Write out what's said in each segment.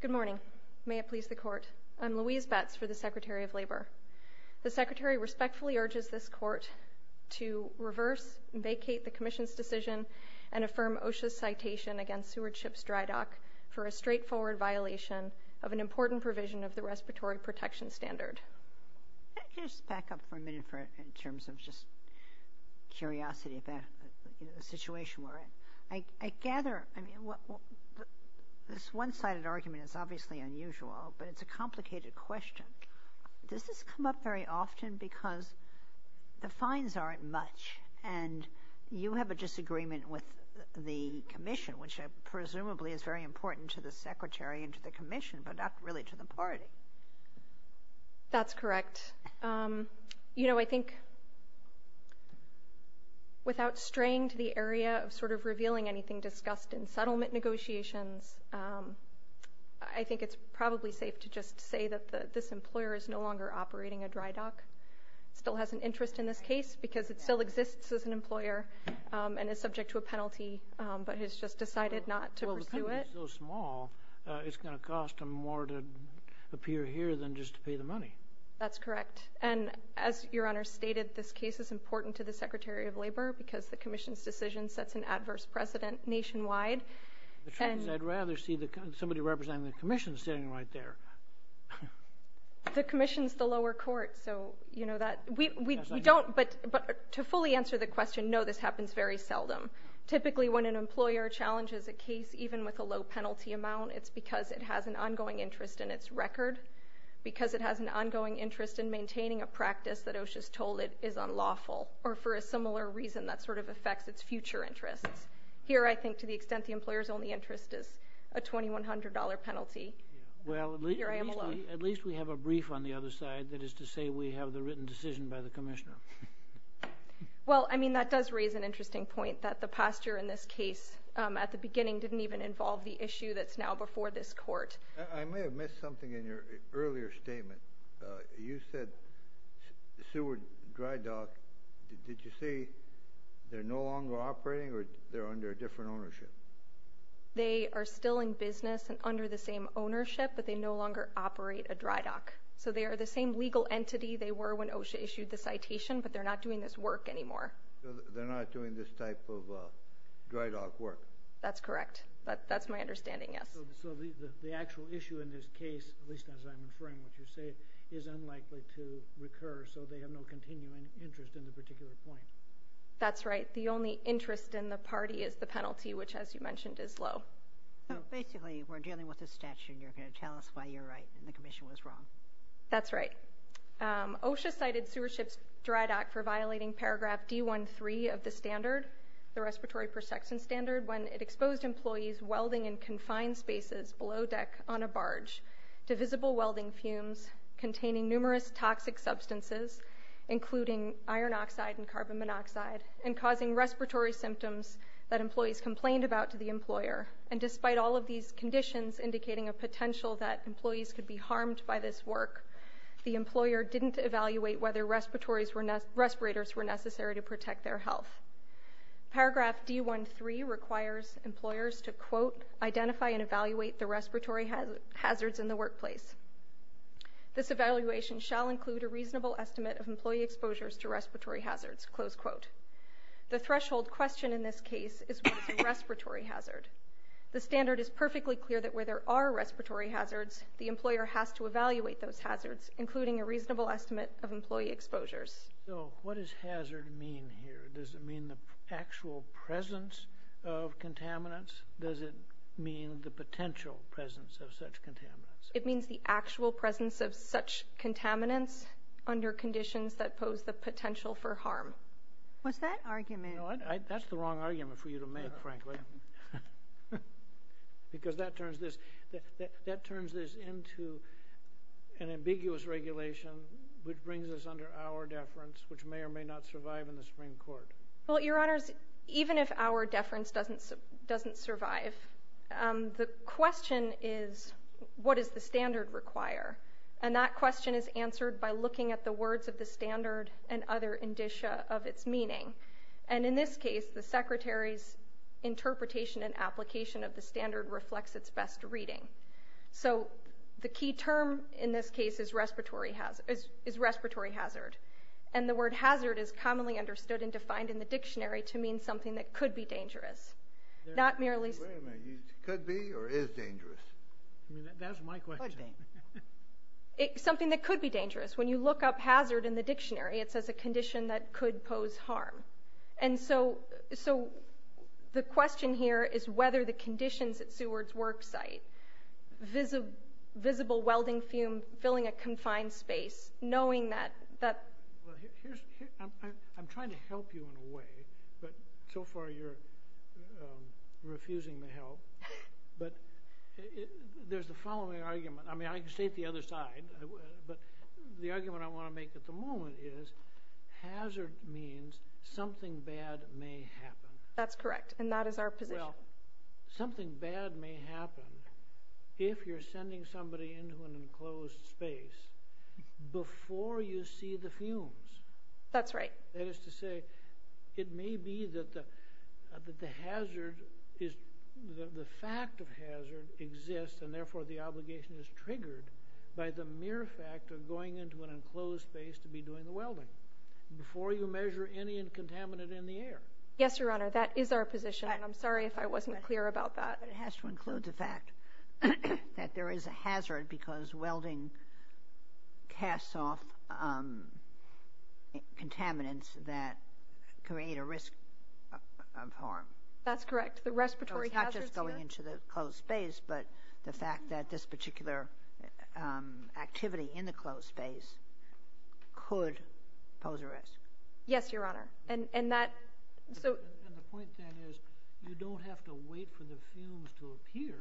Good morning. May it please the Court. I'm Louise Betz for the Secretary of Labor. The Secretary respectfully urges this Court to reverse and vacate the Commission's decision and affirm OSHA's citation against Seward Ship's Drydock for a straightforward violation of an important provision of the Respiratory Protection Standard. Can I just back up for a minute in terms of just curiosity about the situation we're in. I gather, I mean, this one-sided argument is obviously unusual, but it's a complicated question. Does this come up very often because the fines aren't much and you have a disagreement with the Commission, which presumably is very important to the Secretary and to the Commission, but not really to the party? That's correct. You know, I think without straying to the area of sort of revealing anything discussed in settlement negotiations, I think it's probably safe to just say that this employer is no longer operating a drydock. Still has an interest in this case because it still exists as an employer and is subject to a penalty, but has just decided not to appear here than just to pay the money. That's correct, and as Your Honor stated, this case is important to the Secretary of Labor because the Commission's decision sets an adverse precedent nationwide. I'd rather see somebody representing the Commission standing right there. The Commission's the lower court, so you know that. We don't, but to fully answer the question, no, this happens very seldom. Typically when an employer challenges a case, even with a low penalty amount, it's because it has an ongoing interest in its record, because it has an ongoing interest in maintaining a practice that OSHA's told it is unlawful, or for a similar reason that sort of affects its future interests. Here, I think to the extent the employer's only interest is a $2,100 penalty, here I am alone. Well, at least we have a brief on the other side that is to say we have the written decision by the Commissioner. Well, I mean, that does raise an interesting point that the posture in this case at the beginning didn't even involve the issue that's now before this court. I may have missed something in your earlier statement. You said sewer dry dock. Did you say they're no longer operating, or they're under a different ownership? They are still in business and under the same ownership, but they no longer operate a dry dock. So they are the same legal entity they were when OSHA issued the citation, but they're not doing this work anymore. They're not doing this type of dry dock work. That's correct. That's my understanding, yes. So the actual issue in this case, at least as I'm inferring what you say, is unlikely to recur, so they have no continuing interest in the particular point. That's right. The only interest in the party is the penalty, which, as you mentioned, is low. So basically, we're dealing with a statute, and you're going to tell us why you're right and the Commission was wrong. That's right. OSHA cited sewership's dry dock for violating paragraph D-1-3 of the standard, the Respiratory Perception Standard, when it exposed employees welding in confined spaces below deck on a barge to visible welding fumes containing numerous toxic substances, including iron oxide and carbon monoxide, and causing respiratory symptoms that employees complained about to the employer. And despite all of these conditions indicating a potential that employees could be harmed by this work, the employer didn't evaluate whether respirators were necessary to protect their health. Paragraph D-1-3 requires employers to quote, identify and evaluate the respiratory hazards in the workplace. This evaluation shall include a reasonable estimate of employee exposures to respiratory hazards, close quote. The threshold question in this case is respiratory hazard. The standard is perfectly clear that where there are respiratory hazards, the employer has to evaluate those hazards, including a hazard mean here. Does it mean the actual presence of contaminants? Does it mean the potential presence of such contaminants? It means the actual presence of such contaminants under conditions that pose the potential for harm. What's that argument? That's the wrong argument for you to make, frankly, because that turns this into an ambiguous regulation which brings us under our deference, which may or may not survive in the Supreme Court. Well, Your Honors, even if our deference doesn't survive, the question is, what does the standard require? And that question is answered by looking at the words of the standard and other indicia of its meaning. And in this case, the Secretary's interpretation and application of the standard reflects its best reading. So the key term in this case is respiratory hazard. And the word hazard is commonly understood and defined in the dictionary to mean something that could be dangerous, not merely... Wait a minute. Could be or is dangerous? That's my question. Something that could be dangerous. When you look up hazard in the dictionary, it says a condition that could pose harm. And so the question here is whether the visible welding fume filling a confined space, knowing that... I'm trying to help you in a way, but so far you're refusing to help, but there's the following argument. I mean, I can state the other side, but the argument I want to make at the moment is hazard means something bad may happen. That's correct, and that is our position. Well, something bad may happen if you're sending somebody into an enclosed space before you see the fumes. That's right. That is to say, it may be that the hazard is... the fact of hazard exists, and therefore the obligation is triggered by the mere fact of going into an enclosed space to be doing the welding before you measure any contaminant in the air. Yes, Your Honor, that is our position. I'm sorry if I wasn't clear about that. It has to include the fact that there is a hazard because welding casts off contaminants that create a risk of harm. That's correct. The respiratory hazards... It's not just going into the closed space, but the fact that this particular activity in the closed space could pose a risk. Yes, Your Honor, and that... And the point, then, is you don't have to wait for the fumes to appear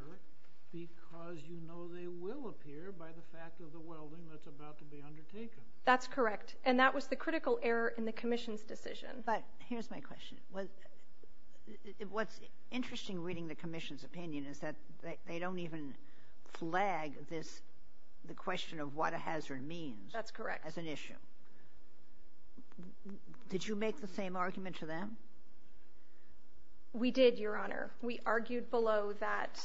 because you know they will appear by the fact of the welding that's about to be undertaken. That's correct, and that was the critical error in the Commission's decision. But here's my question. What's interesting reading the Commission's opinion is that they don't even flag this... the question of what a hazard means. That's correct. As an issue. Did you make the same argument to them? We did, Your Honor. We argued below that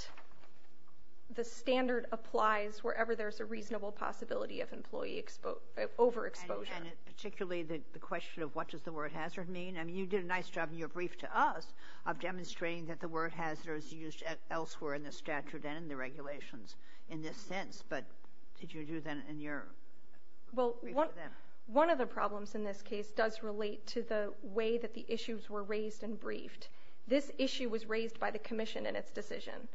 the standard applies wherever there's a reasonable possibility of employee overexposure. And particularly the question of what does the word hazard mean? I mean, you did a nice job in your brief to us of demonstrating that the word hazard is used elsewhere in the statute and in the regulations in this sense, but did you do that in your brief to them? Well, one of the problems in this case does relate to the way that the issues were raised and briefed. This issue was raised by the Commission in its decision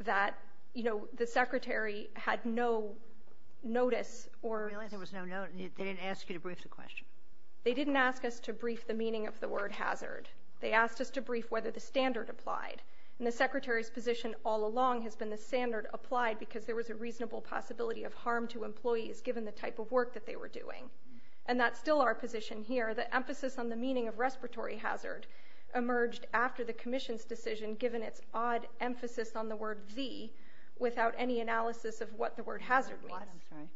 that, you know, the Secretary had no notice or... Really? There was no notice? They didn't ask you to brief the question? They didn't ask us to brief the meaning of the word hazard. They asked us to brief whether the Secretary's position all along has been the standard applied because there was a reasonable possibility of harm to employees given the type of work that they were doing. And that's still our position here. The emphasis on the meaning of respiratory hazard emerged after the Commission's decision given its odd emphasis on the word the without any analysis of what the word hazard means.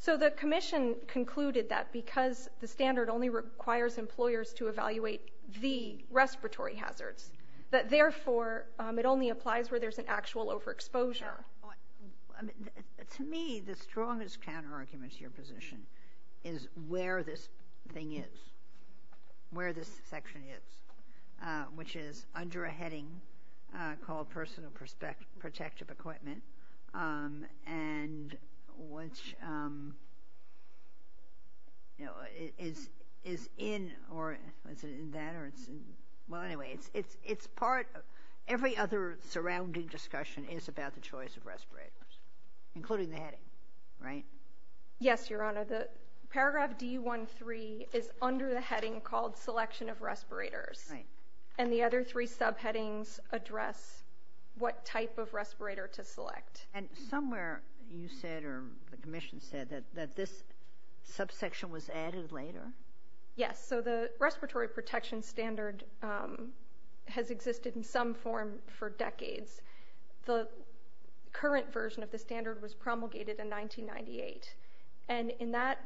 So the Commission concluded that because the standard only requires employers to evaluate the respiratory hazards, that therefore it only applies where there's an actual overexposure. To me, the strongest counter-argument to your position is where this thing is, where this section is, which is under a heading called personal protective equipment and which, you know, is in that or it's in... Well, anyway, it's part of every other surrounding discussion is about the choice of respirators, including the heading, right? Yes, Your Honor. The paragraph D-1-3 is under the heading called selection of respirators and the other three subheadings address what type of respirator to select. And somewhere you said, or the Commission said, that this subsection was added later? Yes, so the respiratory protection standard has existed in some form for decades. The current version of the standard was promulgated in 1998. And in that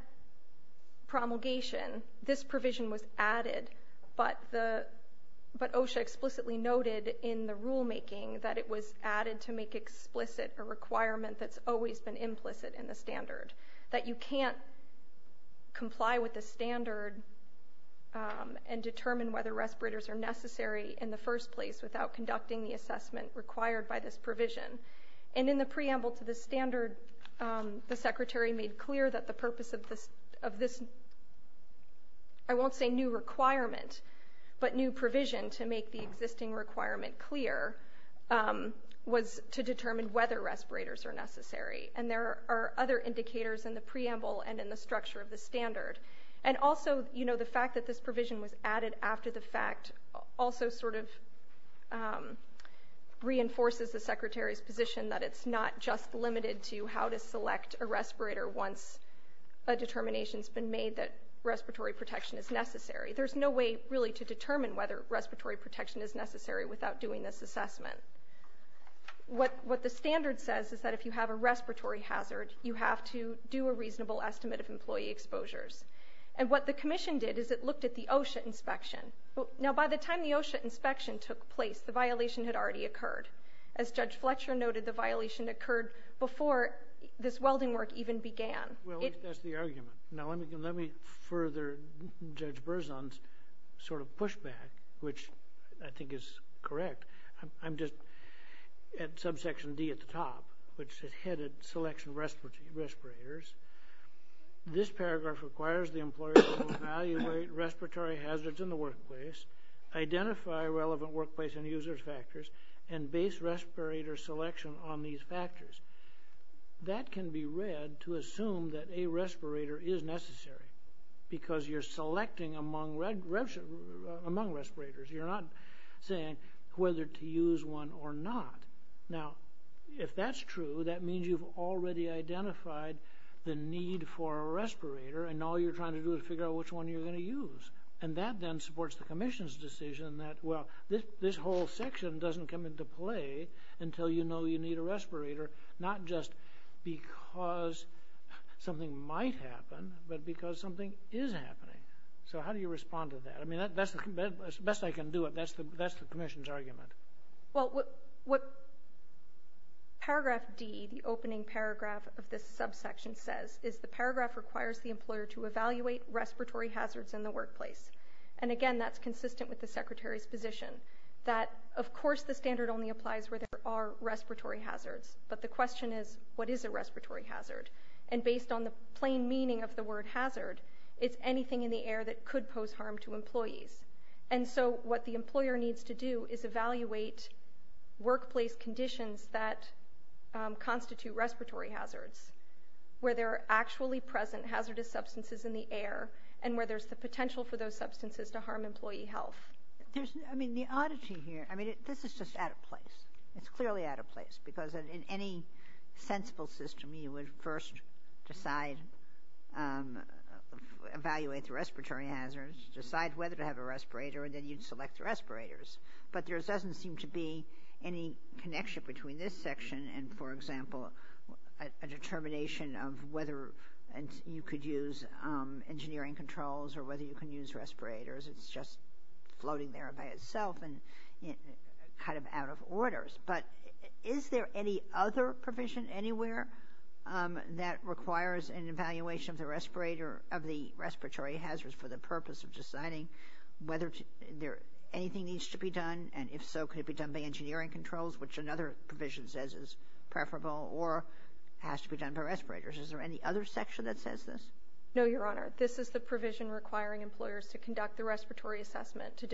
promulgation, this provision was added, but OSHA explicitly noted in the rulemaking that it was added to make explicit a requirement that's can't comply with the standard and determine whether respirators are necessary in the first place without conducting the assessment required by this provision. And in the preamble to the standard, the Secretary made clear that the purpose of this, I won't say new requirement, but new provision to make the existing requirement clear was to determine whether respirators are and in the structure of the standard. And also, you know, the fact that this provision was added after the fact also sort of reinforces the Secretary's position that it's not just limited to how to select a respirator once a determination has been made that respiratory protection is necessary. There's no way really to determine whether respiratory protection is necessary without doing this assessment. What the standard says is that if you have a respiratory hazard, you have to do a reasonable estimate of employee exposures. And what the Commission did is it looked at the OSHA inspection. Now, by the time the OSHA inspection took place, the violation had already occurred. As Judge Fletcher noted, the violation occurred before this welding work even began. Well, that's the argument. Now, let me further Judge Berzon's sort of pushback, which I think is correct. I'm just at subsection D at the top, which is headed selection of respirators. This paragraph requires the employer to evaluate respiratory hazards in the workplace, identify relevant workplace and user factors, and base respirator selection on these factors. That can be read to assume that a respirator is necessary because you're selecting among respirators. You're not saying whether to use one or not. Now, if that's true, that means you've already identified the need for a respirator, and all you're trying to do is figure out which one you're going to use. And that then supports the Commission's decision that, well, this whole section doesn't come into play until you know you need a respirator, not just because something might happen, but because something is happening. So how do you respond to that? I mean, that's the best I can do. That's the Commission's argument. Well, what paragraph D, the opening paragraph of this subsection, says is the paragraph requires the employer to evaluate respiratory hazards in the workplace. And again, that's consistent with the Secretary's position that, of course, the standard only applies where there are respiratory hazards, but the question is, what is a respiratory hazard? And based on the plain meaning of the employees. And so what the employer needs to do is evaluate workplace conditions that constitute respiratory hazards, where there are actually present hazardous substances in the air, and where there's the potential for those substances to harm employee health. There's, I mean, the oddity here, I mean, this is just out of place. It's clearly out of place, because in any sensible system, you would first decide, evaluate the respiratory hazards, decide whether to have a respirator, and then you'd select the respirators. But there doesn't seem to be any connection between this section and, for example, a determination of whether you could use engineering controls or whether you can use respirators. It's just floating there by itself and kind of out of orders. But is there any other provision anywhere that requires an evaluation of the respirator, of the respiratory hazards, for the purpose of deciding whether there, anything needs to be done? And if so, could it be done by engineering controls, which another provision says is preferable, or has to be done by respirators? Is there any other section that says this? No, Your Honor. This is the provision requiring employers to conduct the respiratory assessment to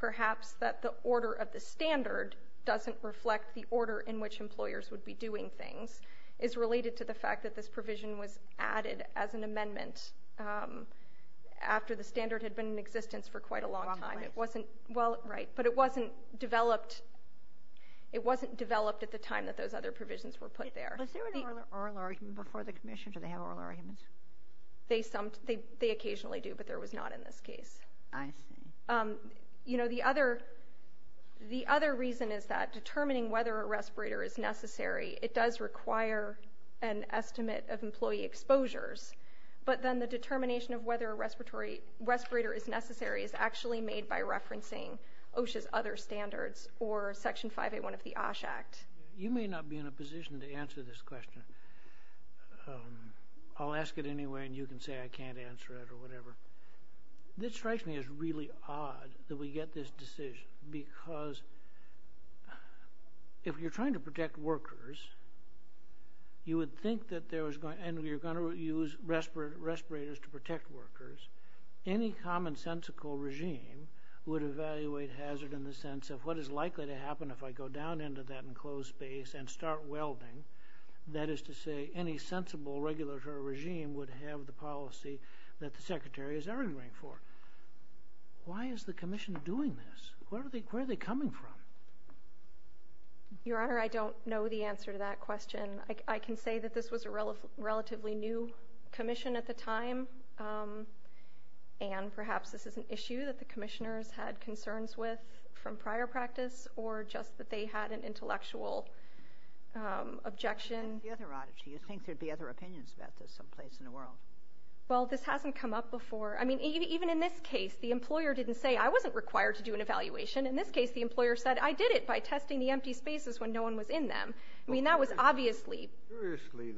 perhaps that the order of the standard doesn't reflect the order in which employers would be doing things, is related to the fact that this provision was added as an amendment after the standard had been in existence for quite a long time. It wasn't, well, right, but it wasn't developed, it wasn't developed at the time that those other provisions were put there. Was there an oral argument before the commission? Do they have oral arguments? They sometimes, they occasionally do, but there was not in this case. I see. You know, the other, the other reason is that determining whether a respirator is necessary, it does require an estimate of employee exposures, but then the determination of whether a respiratory, respirator is necessary is actually made by referencing OSHA's other standards or Section 581 of the OSH Act. You may not be in a position to answer this question. I'll ask it anyway, and you can say I get this decision because if you're trying to protect workers, you would think that there was going, and you're going to use respirators to protect workers, any commonsensical regime would evaluate hazard in the sense of what is likely to happen if I go down into that enclosed space and start welding, that is to say, any sensible regulatory regime would have the policy that the secretary is arguing for. Why is the commission doing this? Where are they, where are they coming from? Your Honor, I don't know the answer to that question. I can say that this was a relatively new commission at the time, and perhaps this is an issue that the commissioners had concerns with from prior practice, or just that they had an intellectual objection. What's the other oddity? You think there'd be other opinions about this someplace in the world? Well, this hasn't come up before. I mean, even in this case, the employer didn't say I wasn't required to do an evaluation. In this case, the employer said I did it by testing the empty spaces when no one was in them. I mean, that was obviously... Curiously,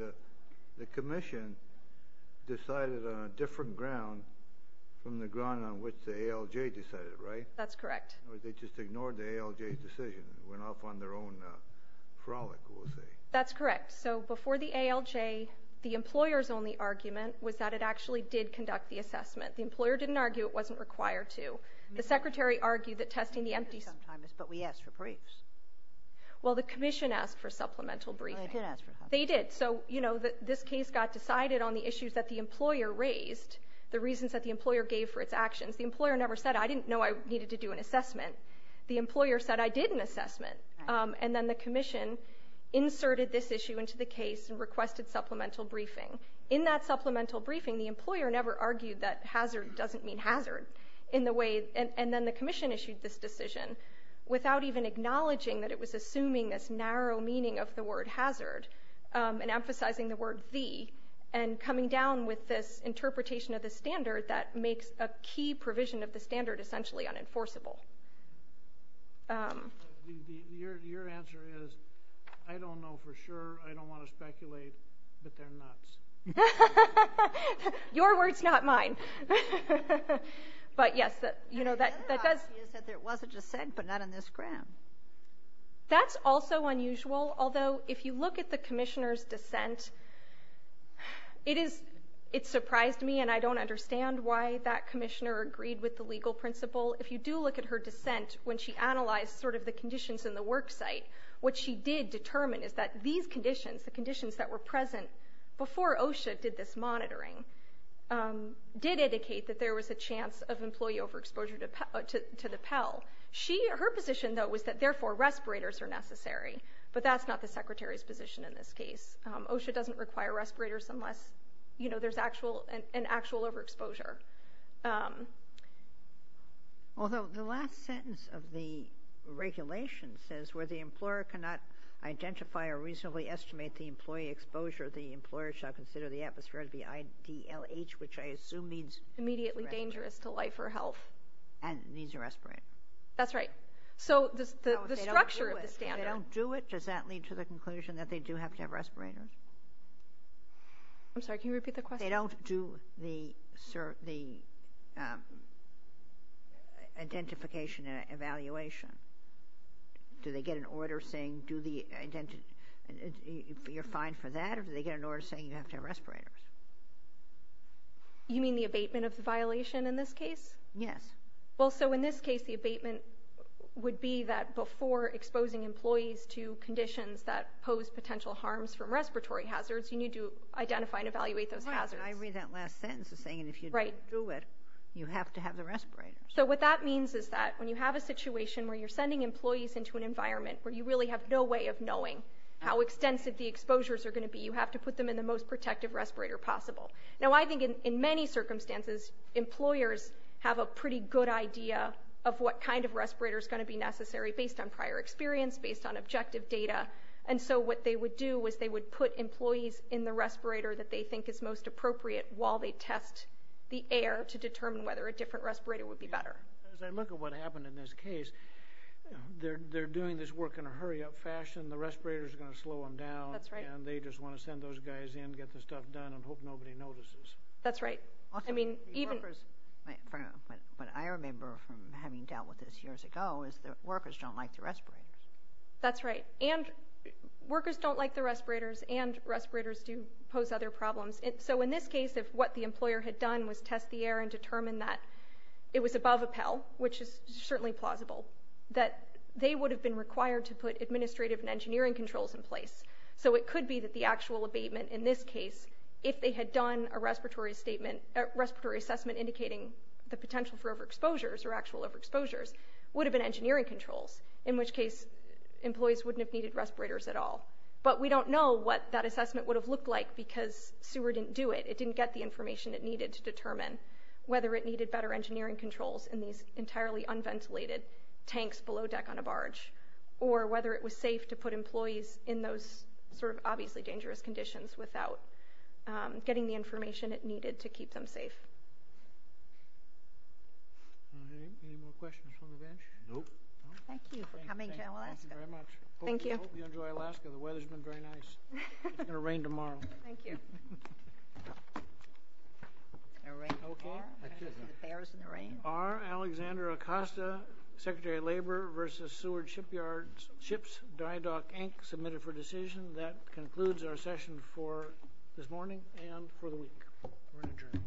the commission decided on a different ground from the ground on which the ALJ decided, right? That's correct. They just ignored the ALJ's decision, went off on their own frolic, we'll say. That's correct. So before the ALJ, the employer's only argument was that it actually did conduct the assessment. The employer didn't argue it wasn't required to. The secretary argued that testing the empty... But we asked for briefs. Well, the commission asked for supplemental briefing. They did ask for... They did. So, you know, this case got decided on the issues that the employer raised, the reasons that the employer gave for its actions. The employer never said I didn't know I needed to do an assessment. The employer said I did an assessment, and then the commission inserted this issue into the case and requested supplemental briefing. In that supplemental briefing, the employer never argued that hazard doesn't mean hazard in the way... And then the commission issued this decision without even acknowledging that it was assuming this narrow meaning of the word hazard, and emphasizing the word the, and coming down with this interpretation of the standard that makes a key provision of the standard essentially unenforceable. Your answer is, I don't know for sure, I don't want to speculate, but they're nuts. Your word's not mine. But yes, that, you know, that... That's also unusual. Although, if you look at the commissioner's dissent, it is... It surprised me, and I don't understand why that commissioner agreed with the legal principle. If you do look at her dissent, when she analyzed sort of the conditions in the worksite, what she did determine is that these conditions, the conditions that were present before OSHA did this monitoring, did indicate that there was a chance of employee overexposure to the Pell. She, her position, though, was that therefore respirators are necessary, but that's not the secretary's position in this case. OSHA doesn't require respirators unless, you know, there's actual, an actual overexposure. Although, the last sentence of the regulation says, where the employer cannot identify or reasonably estimate the employee exposure, the employer shall consider the atmosphere to be IDLH, which I assume means immediately dangerous to life or health. And it needs a respirator. That's right. So the structure of the standard... If they don't do it, does that lead to the conclusion that they do have to have respirators? I'm sorry, can you repeat the question? If they don't do the identification and evaluation, do they get an order saying, do the identity, you're fine for that, or do they get an order saying you have to have respirators? You mean the abatement of the violation in this case? Yes. Well, so in this case, the abatement would be that before exposing employees to conditions that pose potential harms from respiratory hazards, you need to identify and evaluate those hazards. I read that last sentence saying if you do it, you have to have the respirators. So what that means is that when you have a situation where you're sending employees into an environment where you really have no way of knowing how extensive the exposures are going to be, you have to put them in the most protective respirator possible. Now, I think in many circumstances, employers have a pretty good idea of what kind of respirator is going to be necessary based on prior experience, based on objective data, and so what they would do is they would put employees in the respirator that they think is most appropriate while they test the air to determine whether a different respirator would be better. As I look at what happened in this case, they're doing this work in a hurry-up fashion. The respirators are going to slow them down. That's right. And they just want to send those guys in, get the stuff done, and hope nobody notices. That's right. I mean, even... What I remember from having dealt with this years ago is that workers don't like the respirators, and respirators do pose other problems. So in this case, if what the employer had done was test the air and determine that it was above a PEL, which is certainly plausible, that they would have been required to put administrative and engineering controls in place. So it could be that the actual abatement in this case, if they had done a respiratory statement, a respiratory assessment indicating the potential for overexposures or actual overexposures, would have been engineering controls, in which case employees wouldn't have needed respirators at all. But we don't know what that assessment would have looked like, because SEWER didn't do it. It didn't get the information it needed to determine whether it needed better engineering controls in these entirely unventilated tanks below deck on a barge, or whether it was safe to put employees in those sort of obviously dangerous conditions without getting the information it needed to keep them safe. Any more questions from the bench? Nope. Thank you for coming, General Aska. Thank you very much. Thank you. I hope you enjoy Alaska. The weather's been very nice. It's going to rain tomorrow. Thank you. R. Alexander Acosta, Secretary of Labor, versus Seward Shipyards, Ships, DyeDoc, Inc., submitted for decision. That concludes our session for this morning and for the week. We're adjourned.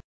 Thank you.